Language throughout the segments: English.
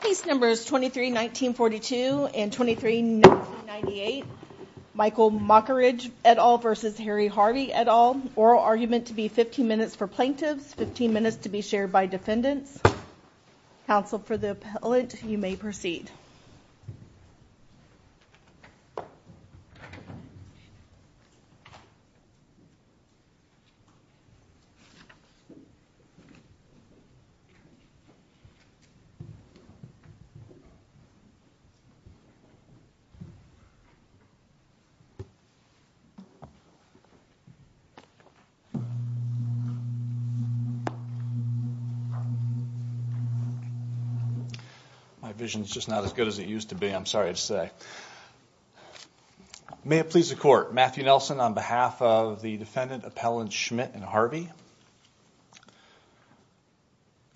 Case numbers 23-1942 and 23-1998 Michael Mockeridge et al. versus Harry Harvey et al. Oral argument to be 15 minutes for plaintiffs, 15 minutes to be shared by defendants. Counsel for the appellant, you may proceed. My vision's just not as good as it used to be, I'm sorry to say. May it please the court, Matthew Nelson on behalf of the defendant appellant Schmidt and Harvey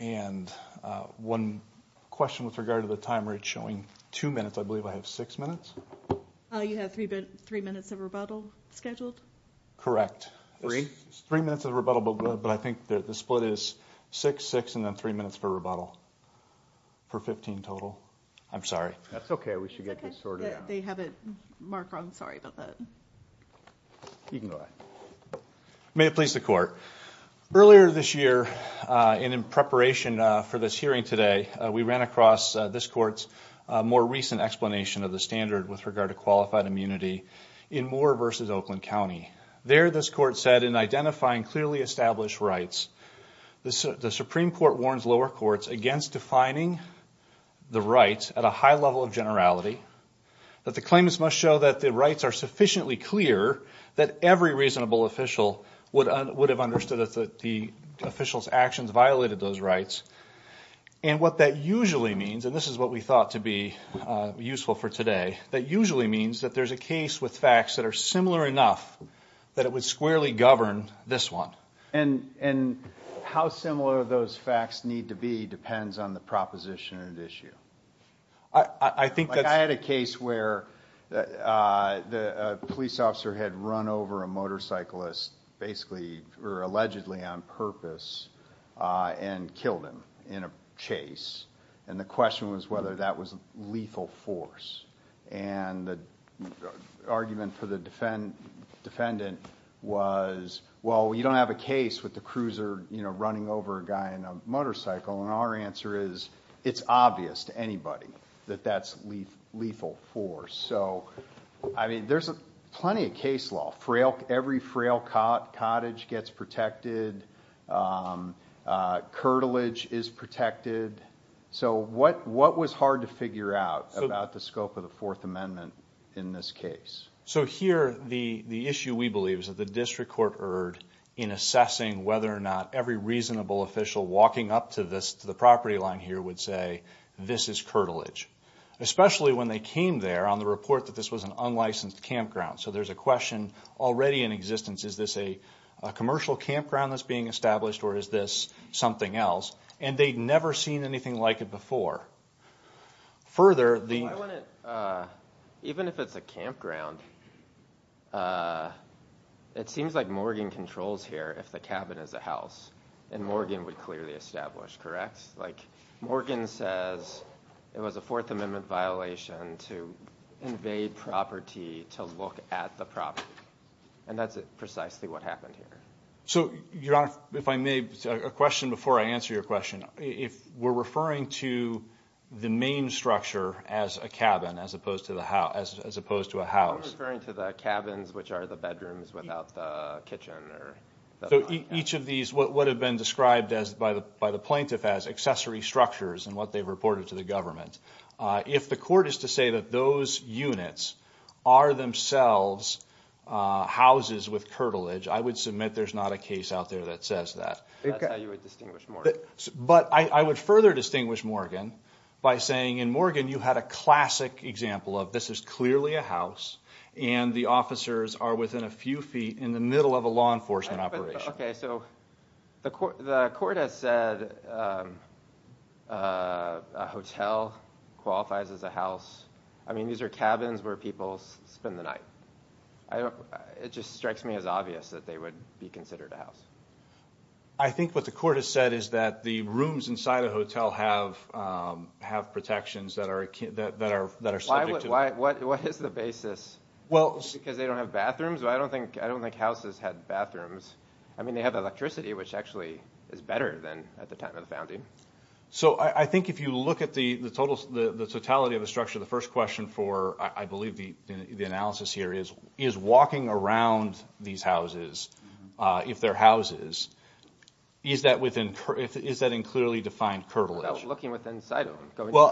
and one question with regard to the time rate showing two minutes, I believe I have six minutes? You have three minutes of rebuttal scheduled? Correct. Three minutes of rebuttal but I think the split is six, six and then three minutes for rebuttal for 15 total. I'm sorry. That's okay, we should get this sorted out. They have it marked wrong, sorry about that. You can go ahead. May it please the court, earlier this year and in preparation for this hearing today we ran across this court's more recent explanation of the standard with regard to qualified immunity in Moore versus Oakland County. There this court said in identifying clearly established rights, the Supreme Court warns lower courts against defining the rights at a high level of generality, that the claimants must show that the rights are sufficiently clear that every reasonable official would have understood that the officials actions violated those rights and what that usually means, and this is what we thought to be useful for today, that usually means that there's a case with facts that are similar enough that it would squarely govern this one. And how similar those facts need to be depends on the proposition at issue. I think that I had a case where the police officer had run over a motorcyclist basically or allegedly on purpose and killed him in a chase and the question was whether that was a lethal force and the argument for the defendant was well you don't have a case with the cruiser you know running over a guy in a motorcycle and our answer is it's obvious to anybody that that's lethal force. So I mean there's a plenty of case law. Every frail cottage gets protected, curtilage is protected, so what what was hard to figure out about the scope of the Fourth Amendment in this case? So here the the issue we believe is that the district court erred in assessing whether or not every reasonable official walking up to this to the property line here would say this is curtilage. Especially when they came there on the report that this was an unlicensed campground. So there's a question already in existence is this a commercial campground that's being established or is this something else? And they'd never seen anything like it before. Further, even if it's a campground it seems like Morgan controls here if the cabin is a house and Morgan would clearly establish correct? Like Morgan says it was a Fourth Amendment violation to invade property to look at the property and that's precisely what happened here. So your honor if I may a question before I answer your question if we're referring to the main structure as a cabin as opposed to the house as opposed to a house. We're referring to the cabins which are the bedrooms without the kitchen. So each of these what would have been described as by the by the plaintiff as accessory structures and what they've reported to the government if the court is to say that those units are themselves houses with curtilage I would submit there's not a case out there that says that. But I would further distinguish Morgan by saying in Morgan you had a classic example of this is clearly a house and the officers are within a few feet in the middle of a law enforcement operation. Okay so the court has said a hotel qualifies as a house I mean these are cabins where people spend the night. I don't it just strikes me as obvious that they would be considered a house. I think what the court has said is that the rooms inside a hotel have have protections that are that are that are subject to. Why what is the basis? Well because they don't have bathrooms I don't think I don't think houses had bathrooms. I mean they have electricity which actually is better than at the time of the founding. So I think if you look at the the totals the totality of the structure the first question for I believe the the analysis here is is walking around these houses if they're houses is that within is that in clearly defined curtilage? Well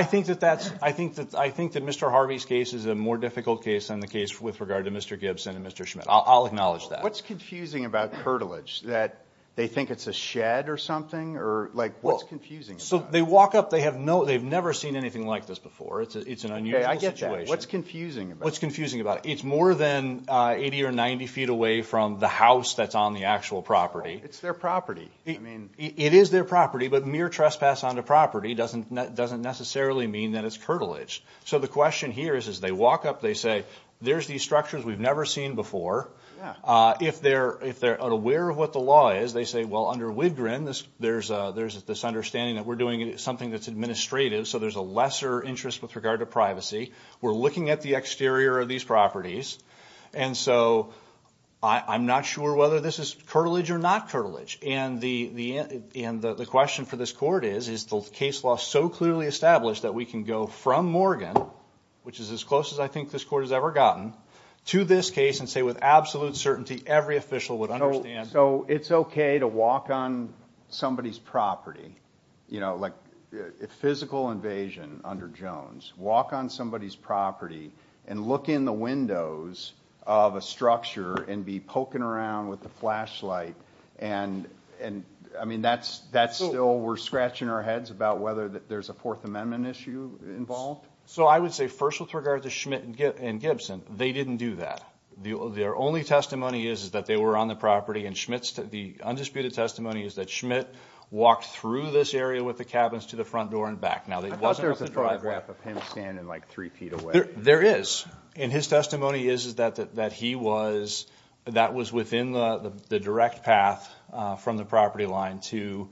I think that that's I think that I think that Mr. Harvey's case is a more difficult case than the case with regard to Mr. Gibson and Mr. Schmidt. I'll acknowledge that. What's confusing about curtilage that they think it's a shed or something or like what's confusing? So they walk up they have no they've never seen anything like this before it's an unusual situation. What's confusing? What's confusing about it it's more than 80 or 90 feet away from the house that's on the actual property. It's their property. I mean it is their property but mere trespass on the property doesn't that doesn't necessarily mean that it's curtilage. So the question here is as they walk up they say there's these structures we've never seen before. If they're if they're aware of what the law is they say well under Wigrin this there's a there's this understanding that we're doing something that's administrative so there's a lesser interest with regard to privacy. We're looking at the exterior of these properties and so I'm not sure whether this is curtilage or not curtilage and the question for this court is is the case law so clearly established that we can go from Morgan which is as close as I think this court has ever gotten to this case and say with absolute certainty every official would understand. So it's okay to walk on somebody's property you know like if physical invasion under Jones walk on somebody's property and look in the of a structure and be poking around with the flashlight and and I mean that's that's still we're scratching our heads about whether that there's a Fourth Amendment issue involved. So I would say first with regard to Schmidt and Gibson they didn't do that. Their only testimony is is that they were on the property and Schmidt's the undisputed testimony is that Schmidt walked through this area with the cabins to the front door and back. Now there's a photograph of him standing like three feet away. There is and his testimony is is that that he was that was within the direct path from the property line to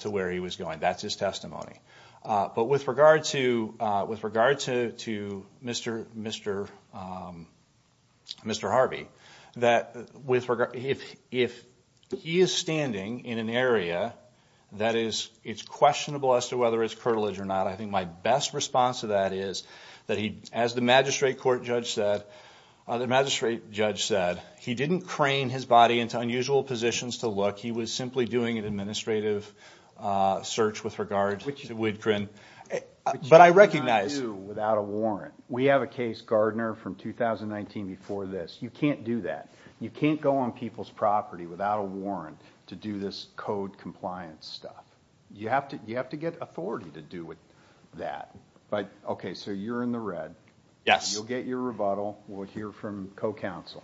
to where he was going that's his testimony. But with regard to with regard to to Mr. Mr. Mr. Harvey that with regard if if he is standing in an area that is it's questionable as to whether it's curtilage or not I think my best response to that is that he as the magistrate court judge said the magistrate judge said he didn't crane his body into unusual positions to look he was simply doing an administrative search with regards which would grin but I recognize without a warrant we have a case Gardner from 2019 before this you can't do that you can't go on people's property without a warrant to do this compliance stuff you have to you have to get authority to do with that but okay so you're in the red yes you'll get your rebuttal we'll hear from co-counsel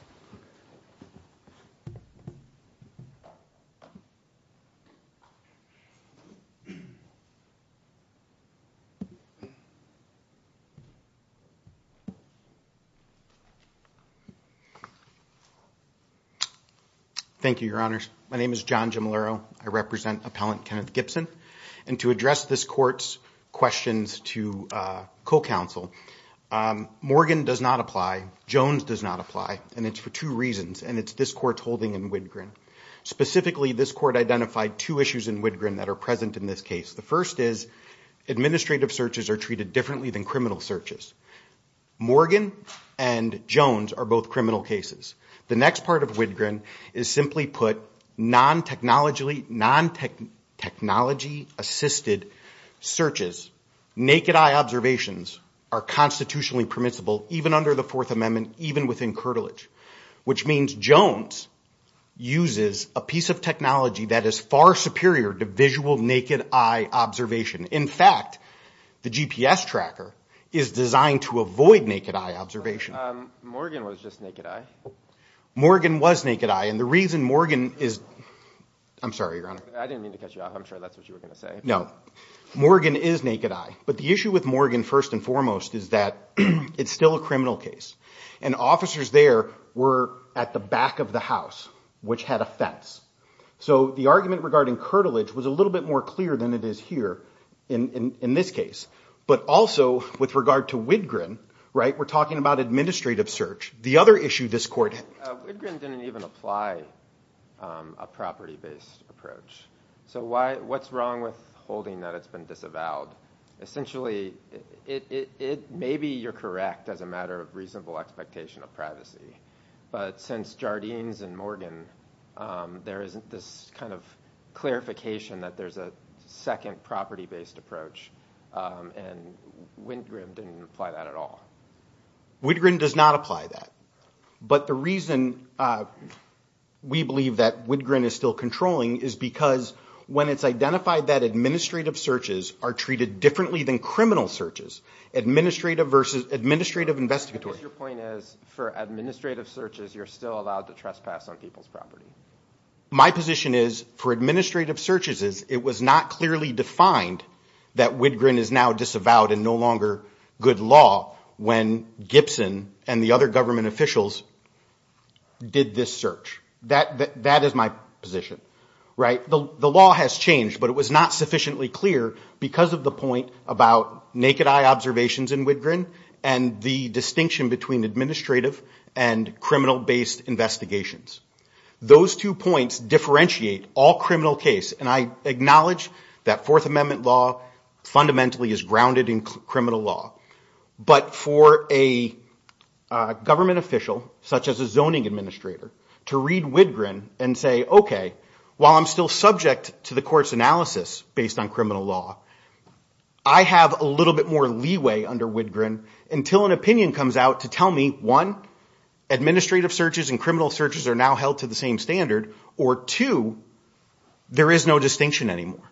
thank you your honors my name is John Jim Lerro I represent appellant Kenneth Gibson and to address this courts questions to co-counsel Morgan does not Jones does not apply and it's for two reasons and it's this court holding in Wittgen specifically this court identified two issues in Wittgen that are present in this case the first is administrative searches are treated differently than criminal searches Morgan and Jones are both criminal cases the next part of Wittgen is simply put non technologically non tech technology assisted searches naked-eye observations are constitutionally permissible even under the Fourth Amendment even within curtilage which means Jones uses a piece of technology that is far superior to visual naked-eye observation in fact the GPS tracker is designed to avoid naked-eye observation Morgan was just naked-eye Morgan was naked-eye and the reason Morgan is I'm sorry your honor I didn't mean to cut you off I'm sure that's what you were gonna say no Morgan is naked-eye but the issue with Morgan first and foremost is that it's still a criminal case and officers there were at the back of the house which had a fence so the argument regarding curtilage was a little bit more clear than it is here in in this case but also with regard to Wittgen right we're talking about administrative search the other issue this court didn't even apply a property-based approach so why what's wrong with holding that it's been essentially it maybe you're correct as a matter of reasonable expectation of privacy but since Jardines and Morgan there isn't this kind of clarification that there's a second property-based approach and Wittgen didn't apply that at all Wittgen does not apply that but the reason we believe that Wittgen is still controlling is because when it's identified that administrative searches are treated differently than criminal searches administrative versus administrative investigatory your point is for administrative searches you're still allowed to trespass on people's property my position is for administrative searches is it was not clearly defined that Wittgen is now disavowed and no longer good law when Gibson and the other government officials did this search that that is my position right the the law has changed but it was not sufficiently clear because of the point about naked eye observations in Wittgen and the distinction between administrative and criminal based investigations those two points differentiate all criminal case and I acknowledge that Fourth Amendment law fundamentally is grounded in criminal law but for a government official such as a zoning administrator to read Wittgen and say okay while I'm still subject to the court's analysis based on criminal law I have a little bit more leeway under Wittgen until an opinion comes out to tell me one administrative searches and criminal searches are now held to the same standard or two there is no distinction anymore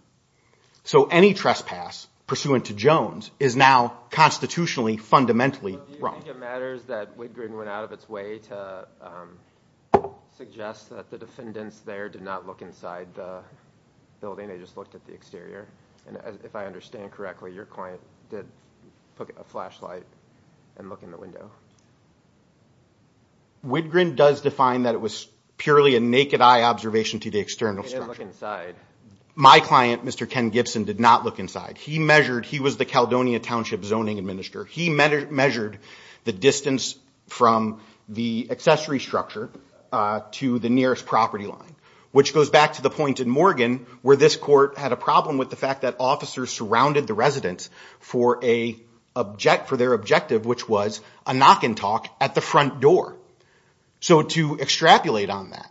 so any trespass pursuant to Jones is now constitutionally fundamentally wrong. Do you think it matters that Wittgen went out of its way to suggest that the defendants there did not look inside the building they just looked at the exterior and if I understand correctly your client did put a flashlight and look in the window. Wittgen does define that it was purely a naked eye observation to the external structure. They didn't look inside. My client Mr. Ken Gibson did not look inside he measured he was the Caledonia township zoning administrator he measured the distance from the accessory structure to the nearest property line which goes back to the point in Morgan where this court had a problem with the fact that officers surrounded the residents for a object for their objective which was a knock and talk at the front door so to extrapolate on that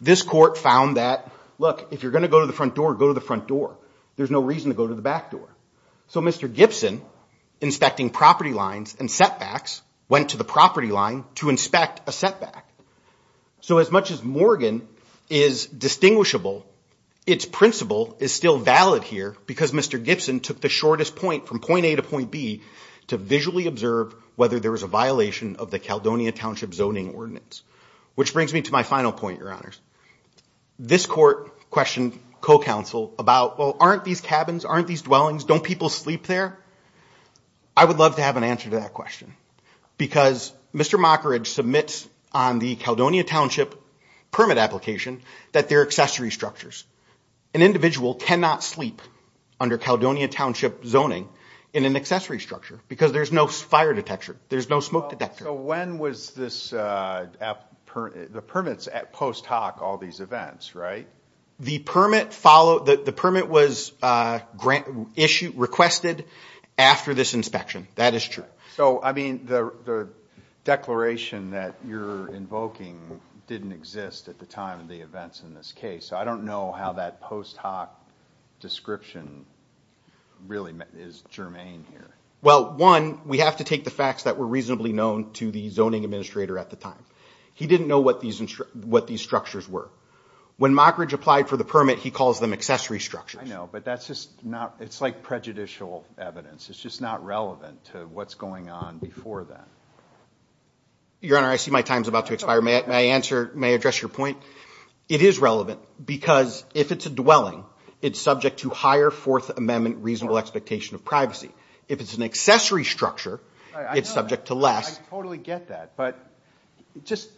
this court found that look if you're going to go to the front door go to the front door there's no reason to go to the back door so Mr. Gibson inspecting property lines and setbacks went to the property line to inspect a setback so as much as Morgan is distinguishable its principle is still valid here because Mr. Gibson took the shortest point from point A to point B to visually observe whether there was a violation of the Caledonia township zoning ordinance which brings me to my final point your honors this court questioned co-counsel about well aren't these cabins aren't these dwellings don't people sleep there I would love to have an answer to that question because Mr. Mockridge submits on the Caledonia township permit application that their accessory structures an individual cannot sleep under Caledonia township zoning in an accessory structure because there's no fire detector there's no smoke detector when was this the permits at post hoc all these events right the permit follow that the permit was grant issue requested after this inspection that is true so I mean the declaration that you're invoking didn't exist at the time of the events in this case so I don't know how that post hoc description really is germane here well one we have to take the facts that were reasonably known to the zoning administrator at the time he didn't know what these what these structures were when mockridge applied for the permit he calls them accessory structure I know but that's just not it's like prejudicial evidence it's just not relevant to what's going on before that your honor I see my time's about to expire may I answer may address your point it is relevant because if it's a dwelling it's subject to higher Fourth Amendment reasonable expectation of privacy if it's an structure it's subject to less totally get that but just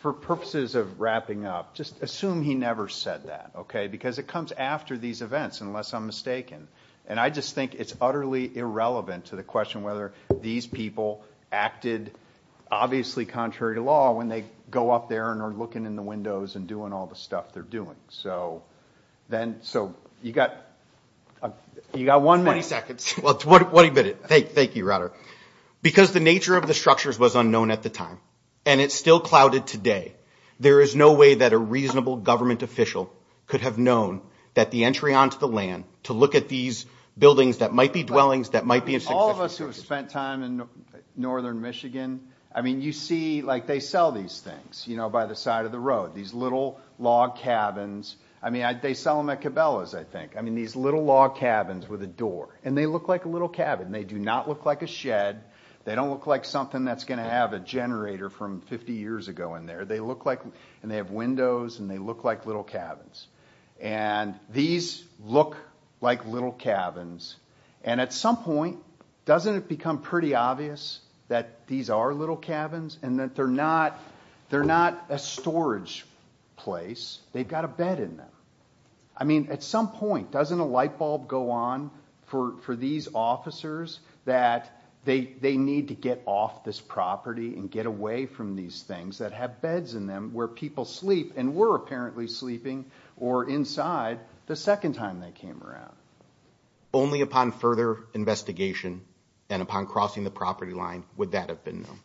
for purposes of wrapping up just assume he never said that okay because it comes after these events unless I'm mistaken and I just think it's utterly irrelevant to the question whether these people acted obviously contrary to law when they go up there and are looking in the windows and doing all the stuff they're doing so then so you got you got one minute seconds well it's what a minute thank thank you rudder because the nature of the structures was unknown at the time and it's still clouded today there is no way that a reasonable government official could have known that the entry onto the land to look at these buildings that might be dwellings that might be all of us who have spent time in northern Michigan I mean you see like they sell these things you know by the they sell them at Cabela's I think I mean these little log cabins with a door and they look like a little cabin they do not look like a shed they don't look like something that's gonna have a generator from 50 years ago in there they look like and they have windows and they look like little cabins and these look like little cabins and at some point doesn't it become pretty obvious that these are little cabins and that they're not they're not a storage place they've got a bed in them I mean at some point doesn't a lightbulb go on for these officers that they they need to get off this property and get away from these things that have beds in them where people sleep and were apparently sleeping or inside the second time they came around only upon further investigation and upon crossing the property line would that have been them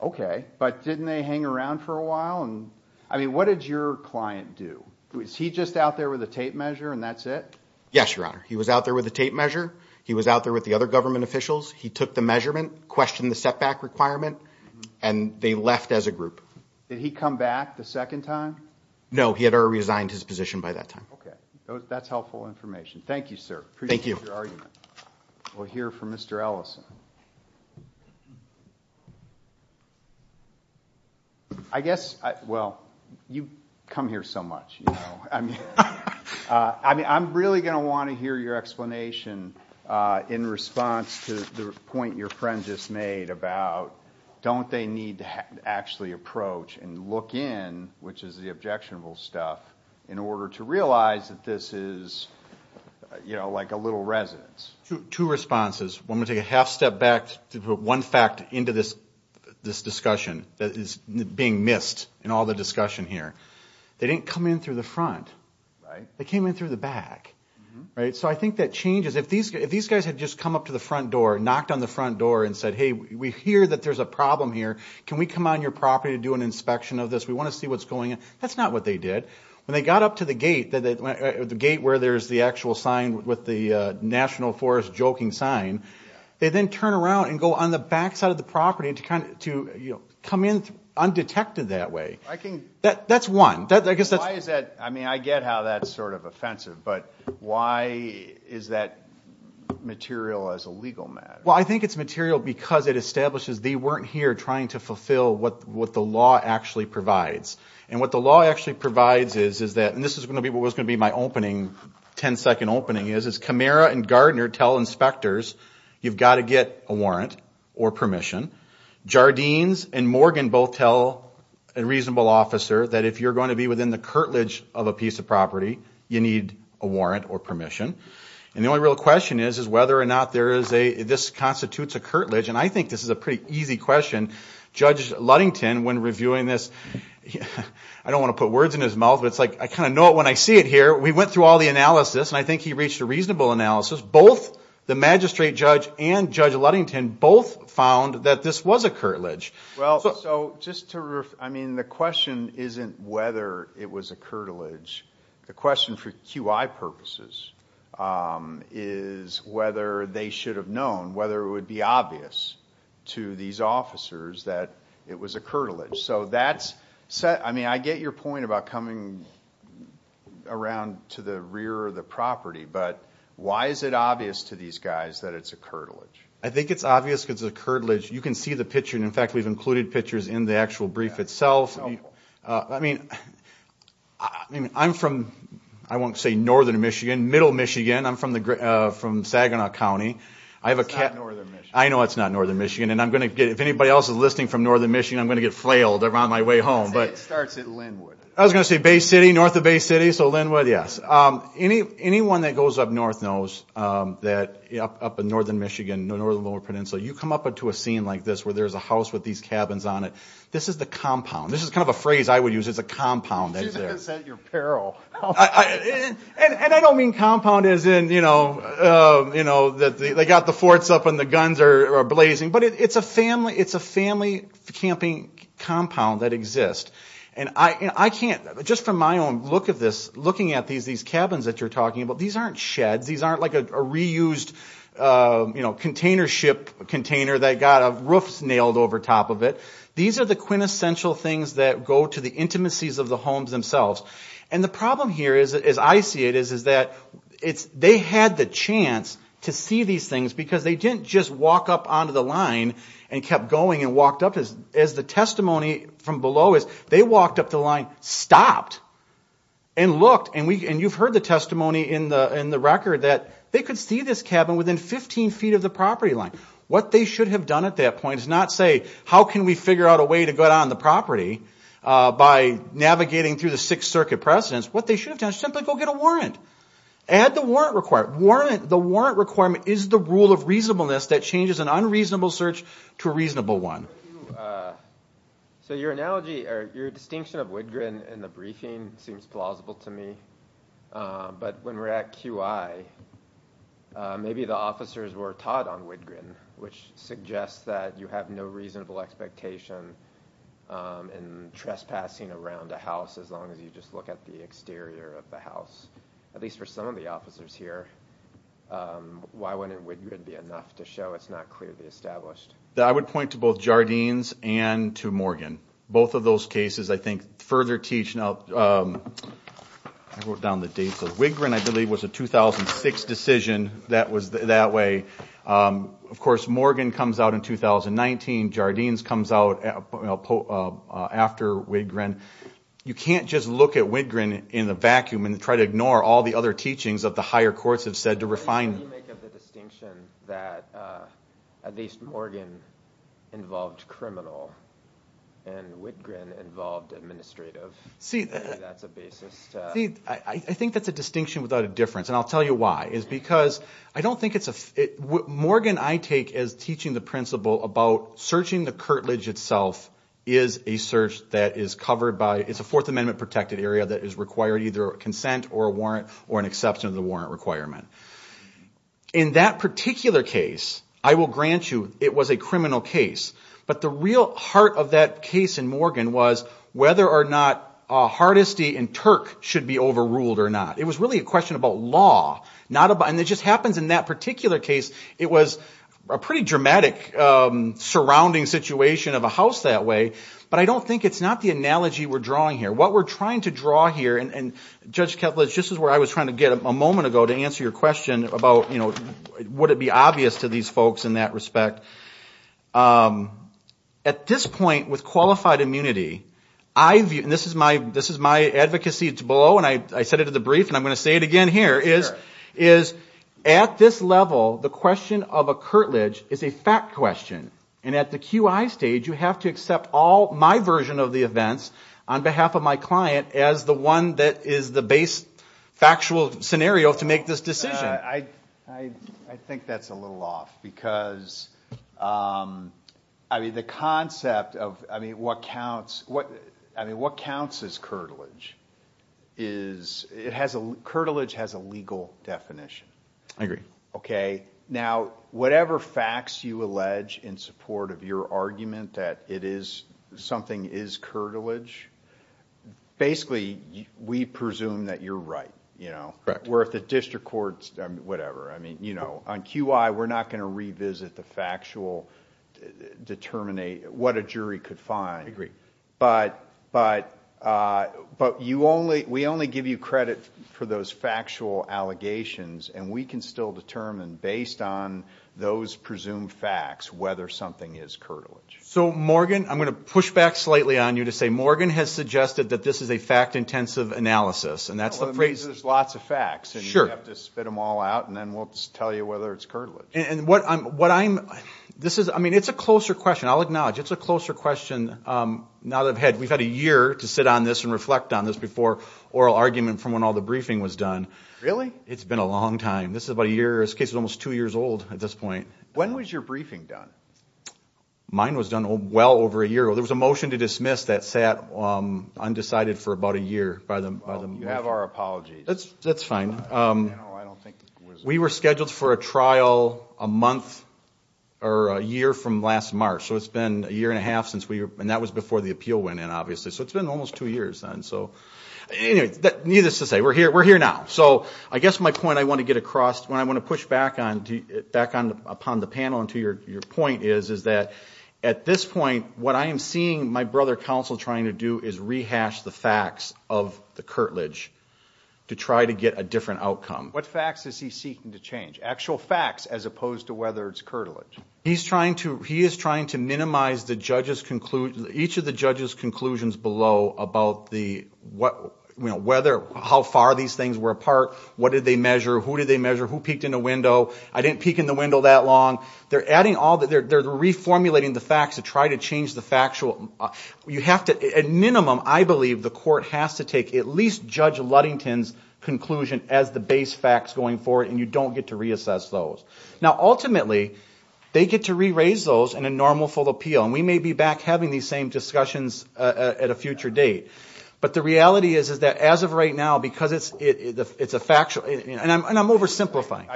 okay but didn't they hang around for a while and I mean what did your client do was he just out there with a tape measure and that's it yes your honor he was out there with a tape measure he was out there with the other government officials he took the measurement questioned the setback requirement and they left as a group did he come back the second time no he had already resigned his position by that time okay that's helpful information thank you sir thank you for your argument we'll hear from mr. Ellison I guess well you come here so much I mean I'm really gonna want to hear your explanation in response to the point your friend just made about don't they need to actually approach and look in which is the objectionable stuff in order to realize that this is you know like a little residence to two responses one would take a half step back to put one fact into this this discussion that is being missed in all the discussion here they didn't come in through the front they came in through the back right so I think that changes if these if these guys had just come up to the front door knocked on the front door and said hey we hear that there's a problem here can we come on your property to do an inspection of this we want to see what's going on that's not what they did when they got up to the gate that the gate where there's the actual sign with the National Forest joking sign they then turn around and go on the back side of property to kind of to you know come in undetected that way I think that that's one that I guess that's that I mean I get how that's sort of offensive but why is that material as a legal matter well I think it's material because it establishes they weren't here trying to fulfill what what the law actually provides and what the law actually provides is is that and this is going to be what was going to be my opening 10-second opening is as Camara and Gardner tell inspectors you've got to get a warrant or permission Jardine's and Morgan both tell a reasonable officer that if you're going to be within the curtilage of a piece of property you need a warrant or permission and the only real question is is whether or not there is a this constitutes a curtilage and I think this is a pretty easy question judge Ludington when reviewing this yeah I don't want to put words in his mouth but it's like I kind of know it when I see it here we went through all the analysis and I think he reached a reasonable analysis both the magistrate judge and judge Ludington both found that this was a curtilage well so just to I mean the question isn't whether it was a curtilage the question for QI purposes is whether they should have known whether it would be obvious to these officers that it was a curtilage so that's said I mean I get your point about coming around to the the property but why is it obvious to these guys that it's a curtilage I think it's obvious because the curtilage you can see the picture and in fact we've included pictures in the actual brief itself I mean I mean I'm from I won't say northern Michigan middle Michigan I'm from the from Saginaw County I have a cat I know it's not northern Michigan and I'm gonna get if anybody else is listening from northern Michigan I'm gonna get flailed around my way home but I was gonna say Bay City north of Bay City so Linwood yes any anyone that goes up north knows that up in northern Michigan no northern lower peninsula you come up into a scene like this where there's a house with these cabins on it this is the compound this is kind of a phrase I would use it's a compound and I don't mean compound is in you know you know that they got the forts up and the guns are blazing but it's a family it's a family camping compound that exists and I can't just from my own look at this looking at these these cabins that you're talking about these aren't sheds these aren't like a reused you know container ship container that got a roof nailed over top of it these are the quintessential things that go to the intimacies of the homes themselves and the problem here is as I see it is is that it's they had the chance to see these things because they didn't just walk up onto the line and kept going and as the testimony from below is they walked up the line stopped and looked and we and you've heard the testimony in the in the record that they could see this cabin within 15 feet of the property line what they should have done at that point is not say how can we figure out a way to go down the property by navigating through the Sixth Circuit precedence what they should have done simply go get a warrant add the warrant required warrant the warrant requirement is the rule of reasonableness that changes an unreasonable search to a so your analogy or your distinction of wood grin in the briefing seems plausible to me but when we're at QI maybe the officers were taught on wood grin which suggests that you have no reasonable expectation and trespassing around a house as long as you just look at the exterior of the house at least for some of the officers here why wouldn't we could be enough to show it's that I would point to both Jardines and to Morgan both of those cases I think further teach now I wrote down the dates of Wigrin I believe was a 2006 decision that was that way of course Morgan comes out in 2019 Jardines comes out after Wigrin you can't just look at Wigrin in the vacuum and try to ignore all the other teachings of the higher courts have said to refine I think that's a distinction without a difference and I'll tell you why is because I don't think it's a Morgan I take as teaching the principle about searching the curtilage itself is a search that is covered by it's a Fourth Amendment protected area that is required either a consent or warrant or an exception of the warrant requirement in that particular case I will grant you it was a criminal case but the real heart of that case in Morgan was whether or not a hardesty in Turk should be overruled or not it was really a question about law not about and it just happens in that particular case it was a pretty dramatic surrounding situation of a house that way but I don't think it's not the analogy we're drawing here what we're trying to draw here and judge Kevlin's just as where I was trying to get a moment ago to answer your question about you know would it be obvious to these folks in that respect at this point with qualified immunity I view and this is my this is my advocacy to below and I said it at the brief and I'm going to say it again here is is at this level the question of a curtilage is a fact question and at the QI stage you have to accept all my version of the events on behalf of my client as the one that is the base factual scenario to make this decision I I think that's a little off because I mean the concept of I mean what counts what I mean what counts is curtilage is it has a curtilage has a legal definition I agree okay now whatever facts you allege in support of your argument that it is something is curtilage basically we presume that you're right you know correct where if the district courts whatever I mean you know on QI we're not going to revisit the factual determine a what a jury could find agree but but but you only we only give you credit for those factual allegations and we can still determine based on those presumed facts whether something is curtilage so Morgan I'm going to push back slightly on you to say Morgan has suggested that this is a fact-intensive analysis and that's the phrase there's lots of facts and you have to spit them all out and then we'll tell you whether it's curtilage and what I'm what I'm this is I mean it's a closer question I'll acknowledge it's a closer question now that I've had we've had a year to sit on this and reflect on this before oral argument from when all the briefing was done really it's been a almost two years old at this point when was your briefing done mine was done well over a year ago there was a motion to dismiss that sat undecided for about a year by them you have our apologies that's that's fine we were scheduled for a trial a month or a year from last March so it's been a year and a half since we were and that was before the appeal went in obviously so it's been almost two years and so you know that needless to say we're here we're here now so I guess my point I want to get across when I want to push back on to back on upon the panel and to your point is is that at this point what I am seeing my brother counsel trying to do is rehash the facts of the curtilage to try to get a different outcome what facts is he seeking to change actual facts as opposed to whether it's curtilage he's trying to he is trying to minimize the judges conclude each of the judges conclusions below about the what you know whether how far these things were apart what did they measure who did they measure who peeked in a window I didn't peek in the window that long they're adding all that they're reformulating the facts to try to change the factual you have to at minimum I believe the court has to take at least judge Ludington's conclusion as the base facts going forward and you don't get to reassess those now ultimately they get to re-raise those in a normal full appeal and we may be back having these same discussions at a future date but the reality is is that as of right now because it's it's a factual and I'm oversimplifying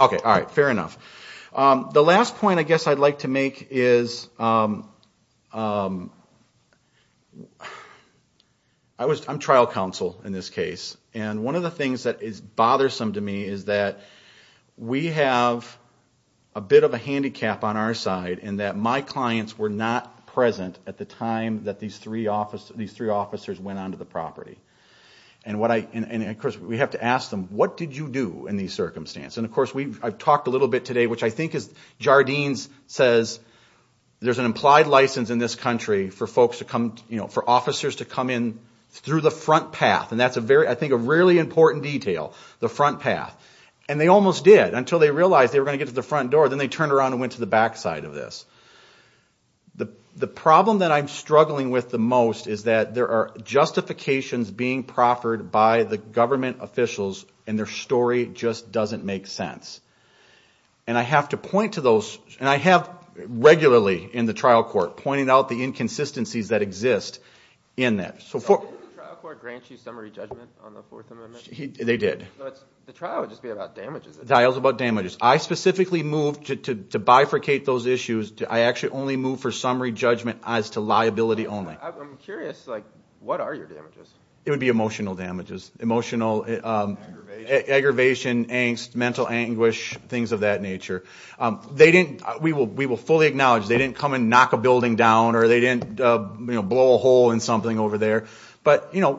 okay all right fair enough the last point I guess I'd like to make is I was I'm trial counsel in this case and one of the things that is bothersome to me is that we have a bit of a handicap on our side and that my clients were not present at the time that these three office these three went on to the property and what I and of course we have to ask them what did you do in these circumstance and of course we've talked a little bit today which I think is Jardines says there's an implied license in this country for folks to come you know for officers to come in through the front path and that's a very I think a really important detail the front path and they almost did until they realized they were going to get to the front door then they turned around and went to the back side of this the the problem that I'm struggling with the most is that there are justifications being proffered by the government officials and their story just doesn't make sense and I have to point to those and I have regularly in the trial court pointing out the inconsistencies that exist in that so for they did I specifically moved to bifurcate those issues I actually only move for summary judgment as to only it would be emotional damages emotional aggravation angst mental anguish things of that nature they didn't we will we will fully acknowledge they didn't come and knock a building down or they didn't blow a hole in something over there but you know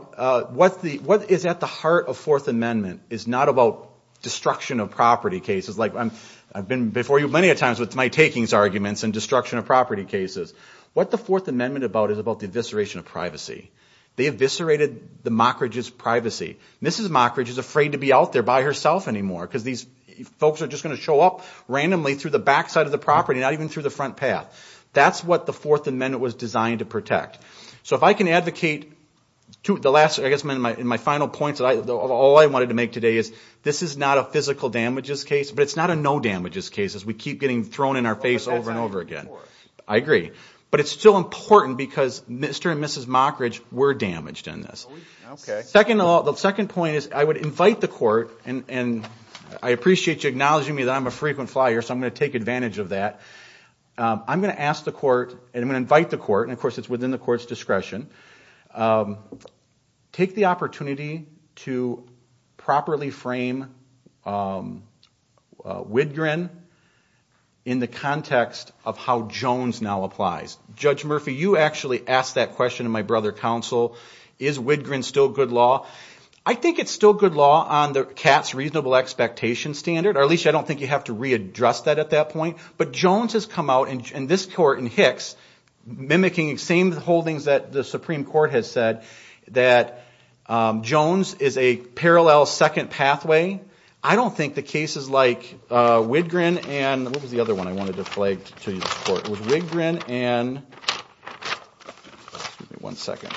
what the what is at the heart of Fourth Amendment is not about destruction of property cases like I've been before you many a times with my takings arguments and destruction of property cases what the Fourth Amendment about is about the evisceration of privacy they eviscerated the mockerages privacy mrs. Mockridge is afraid to be out there by herself anymore because these folks are just going to show up randomly through the backside of the property not even through the front path that's what the Fourth Amendment was designed to protect so if I can advocate to the last I guess my in my final points that I all I wanted to make today is this is not a physical damages case but it's not a no damages cases we keep getting thrown in our face over and over again I agree but it's still important because mr. and mrs. Mockridge were damaged in this okay second the second point is I would invite the court and and I appreciate you acknowledging me that I'm a frequent flyer so I'm going to take advantage of that I'm going to ask the court and I'm going to invite the court and of course it's within the courts discretion take the opportunity to properly frame Widgren in the context of how Jones now applies judge Murphy you actually asked that question of my brother counsel is Widgren still good law I think it's still good law on the cat's reasonable expectation standard or at least I don't think you have to readdress that at that point but Jones has come out in this court in Hicks mimicking the same holdings that the Supreme Court has said that Jones is a parallel second pathway I don't think the cases like Widgren and what was the other one I wanted to play to you support with Wigrin and one second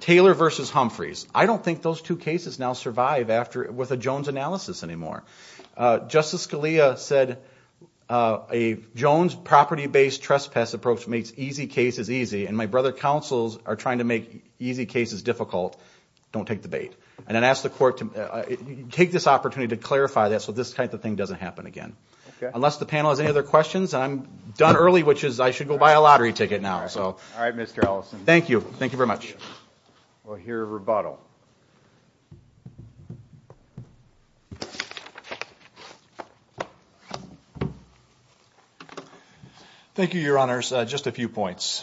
Taylor versus Humphreys I don't think those two cases now survive after with a Jones analysis anymore justice Scalia said a Jones property based trespass approach makes easy cases easy and my brother counsels are trying to make easy cases difficult don't take the bait and then ask the court to take this opportunity to clarify that so this kind of thing doesn't happen again unless the panel has any other questions I'm done early which is I should go buy a lottery ticket now so all right mr. Ellison thank you thank you very much we'll hear a rebuttal thank you your honors just a few points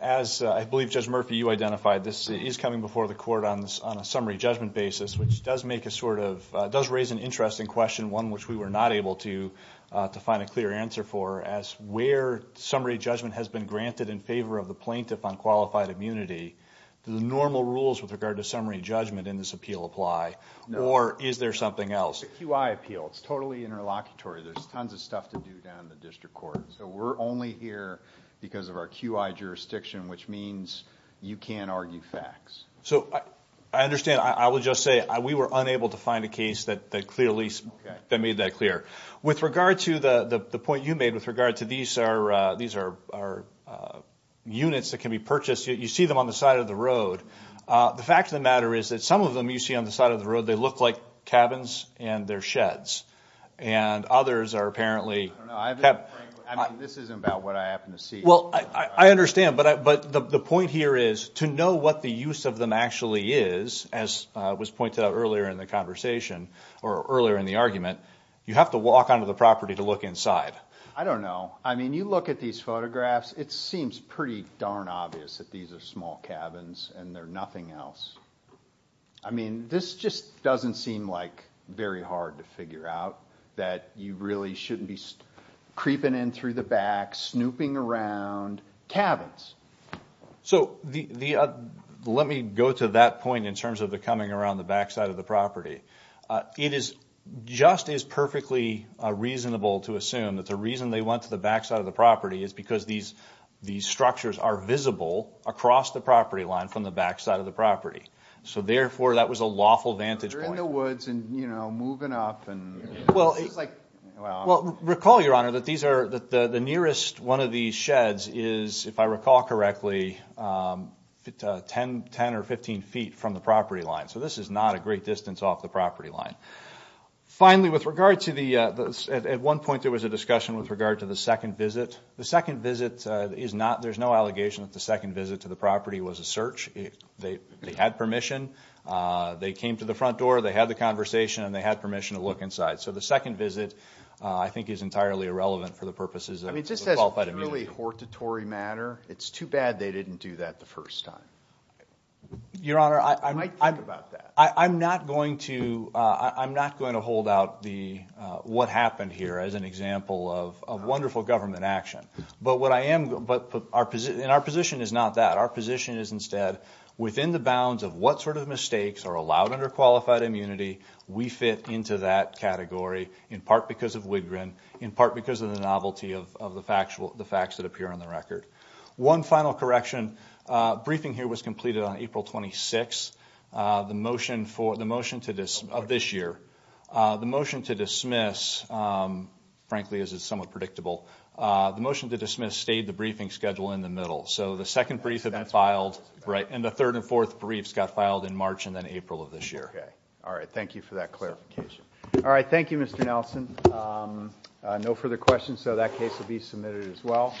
as I believe judge Murphy you identified this is coming before the court on this on a summary judgment basis which does make a sort of does raise an interesting question one which we were not able to to find a clear answer for as where summary judgment has been granted in favor of the plaintiff on qualified immunity the normal rules with regard to summary judgment in this appeal apply or is there something else UI appeal it's totally interlocutory there's tons of stuff to do down the district court so we're only here because of our QI jurisdiction which means you can't argue facts so I understand I would just say we were unable to find a case that clearly that made that clear with regard to the the point you made with regard to these are these are units that can be purchased you see them on the side of the road the fact of the matter is that some of them you see on the side of the road they look like cabins and their sheds and others are apparently well I understand but but the point here is to know what the use of them actually is as was pointed out earlier in the conversation or earlier in the argument you have to walk onto the property to look inside I don't know I mean you look at these photographs it seems pretty darn obvious that these are small cabins and they're nothing else I mean this just doesn't seem like very hard to figure out that you really shouldn't be creeping in through the back snooping around cabins so the let me go to that point in terms of the coming around the backside of the property it is just as perfectly reasonable to assume that the reason they went to the backside of the visible across the property line from the backside of the property so therefore that was a lawful vantage point in the woods and you know moving up and well it's like well recall your honor that these are that the nearest one of these sheds is if I recall correctly 10 10 or 15 feet from the property line so this is not a great distance off the property line finally with regard to the at one point there was a discussion with regard to the second visit the second visit is not there's no allegation that the second visit to the property was a search if they had permission they came to the front door they had the conversation and they had permission to look inside so the second visit I think is entirely irrelevant for the purposes of it just says really hortatory matter it's too bad they didn't do that the first time your honor I might think about that I'm not going to I'm not going to hold out the what happened here as an example of a wonderful government action but what I am but our position in our position is not that our position is instead within the bounds of what sort of mistakes are allowed under qualified immunity we fit into that category in part because of Wigrin in part because of the novelty of the factual the facts that appear on the record one final correction briefing here was completed on April 26 the motion for the motion to this of this year the motion to dismiss frankly is it somewhat predictable the motion to dismiss stayed the briefing schedule in the middle so the second reason that filed right and the third and fourth briefs got filed in March and then April of this year all right thank you for that clarification all right thank you mr. Nelson no further questions so that case will be submitted as well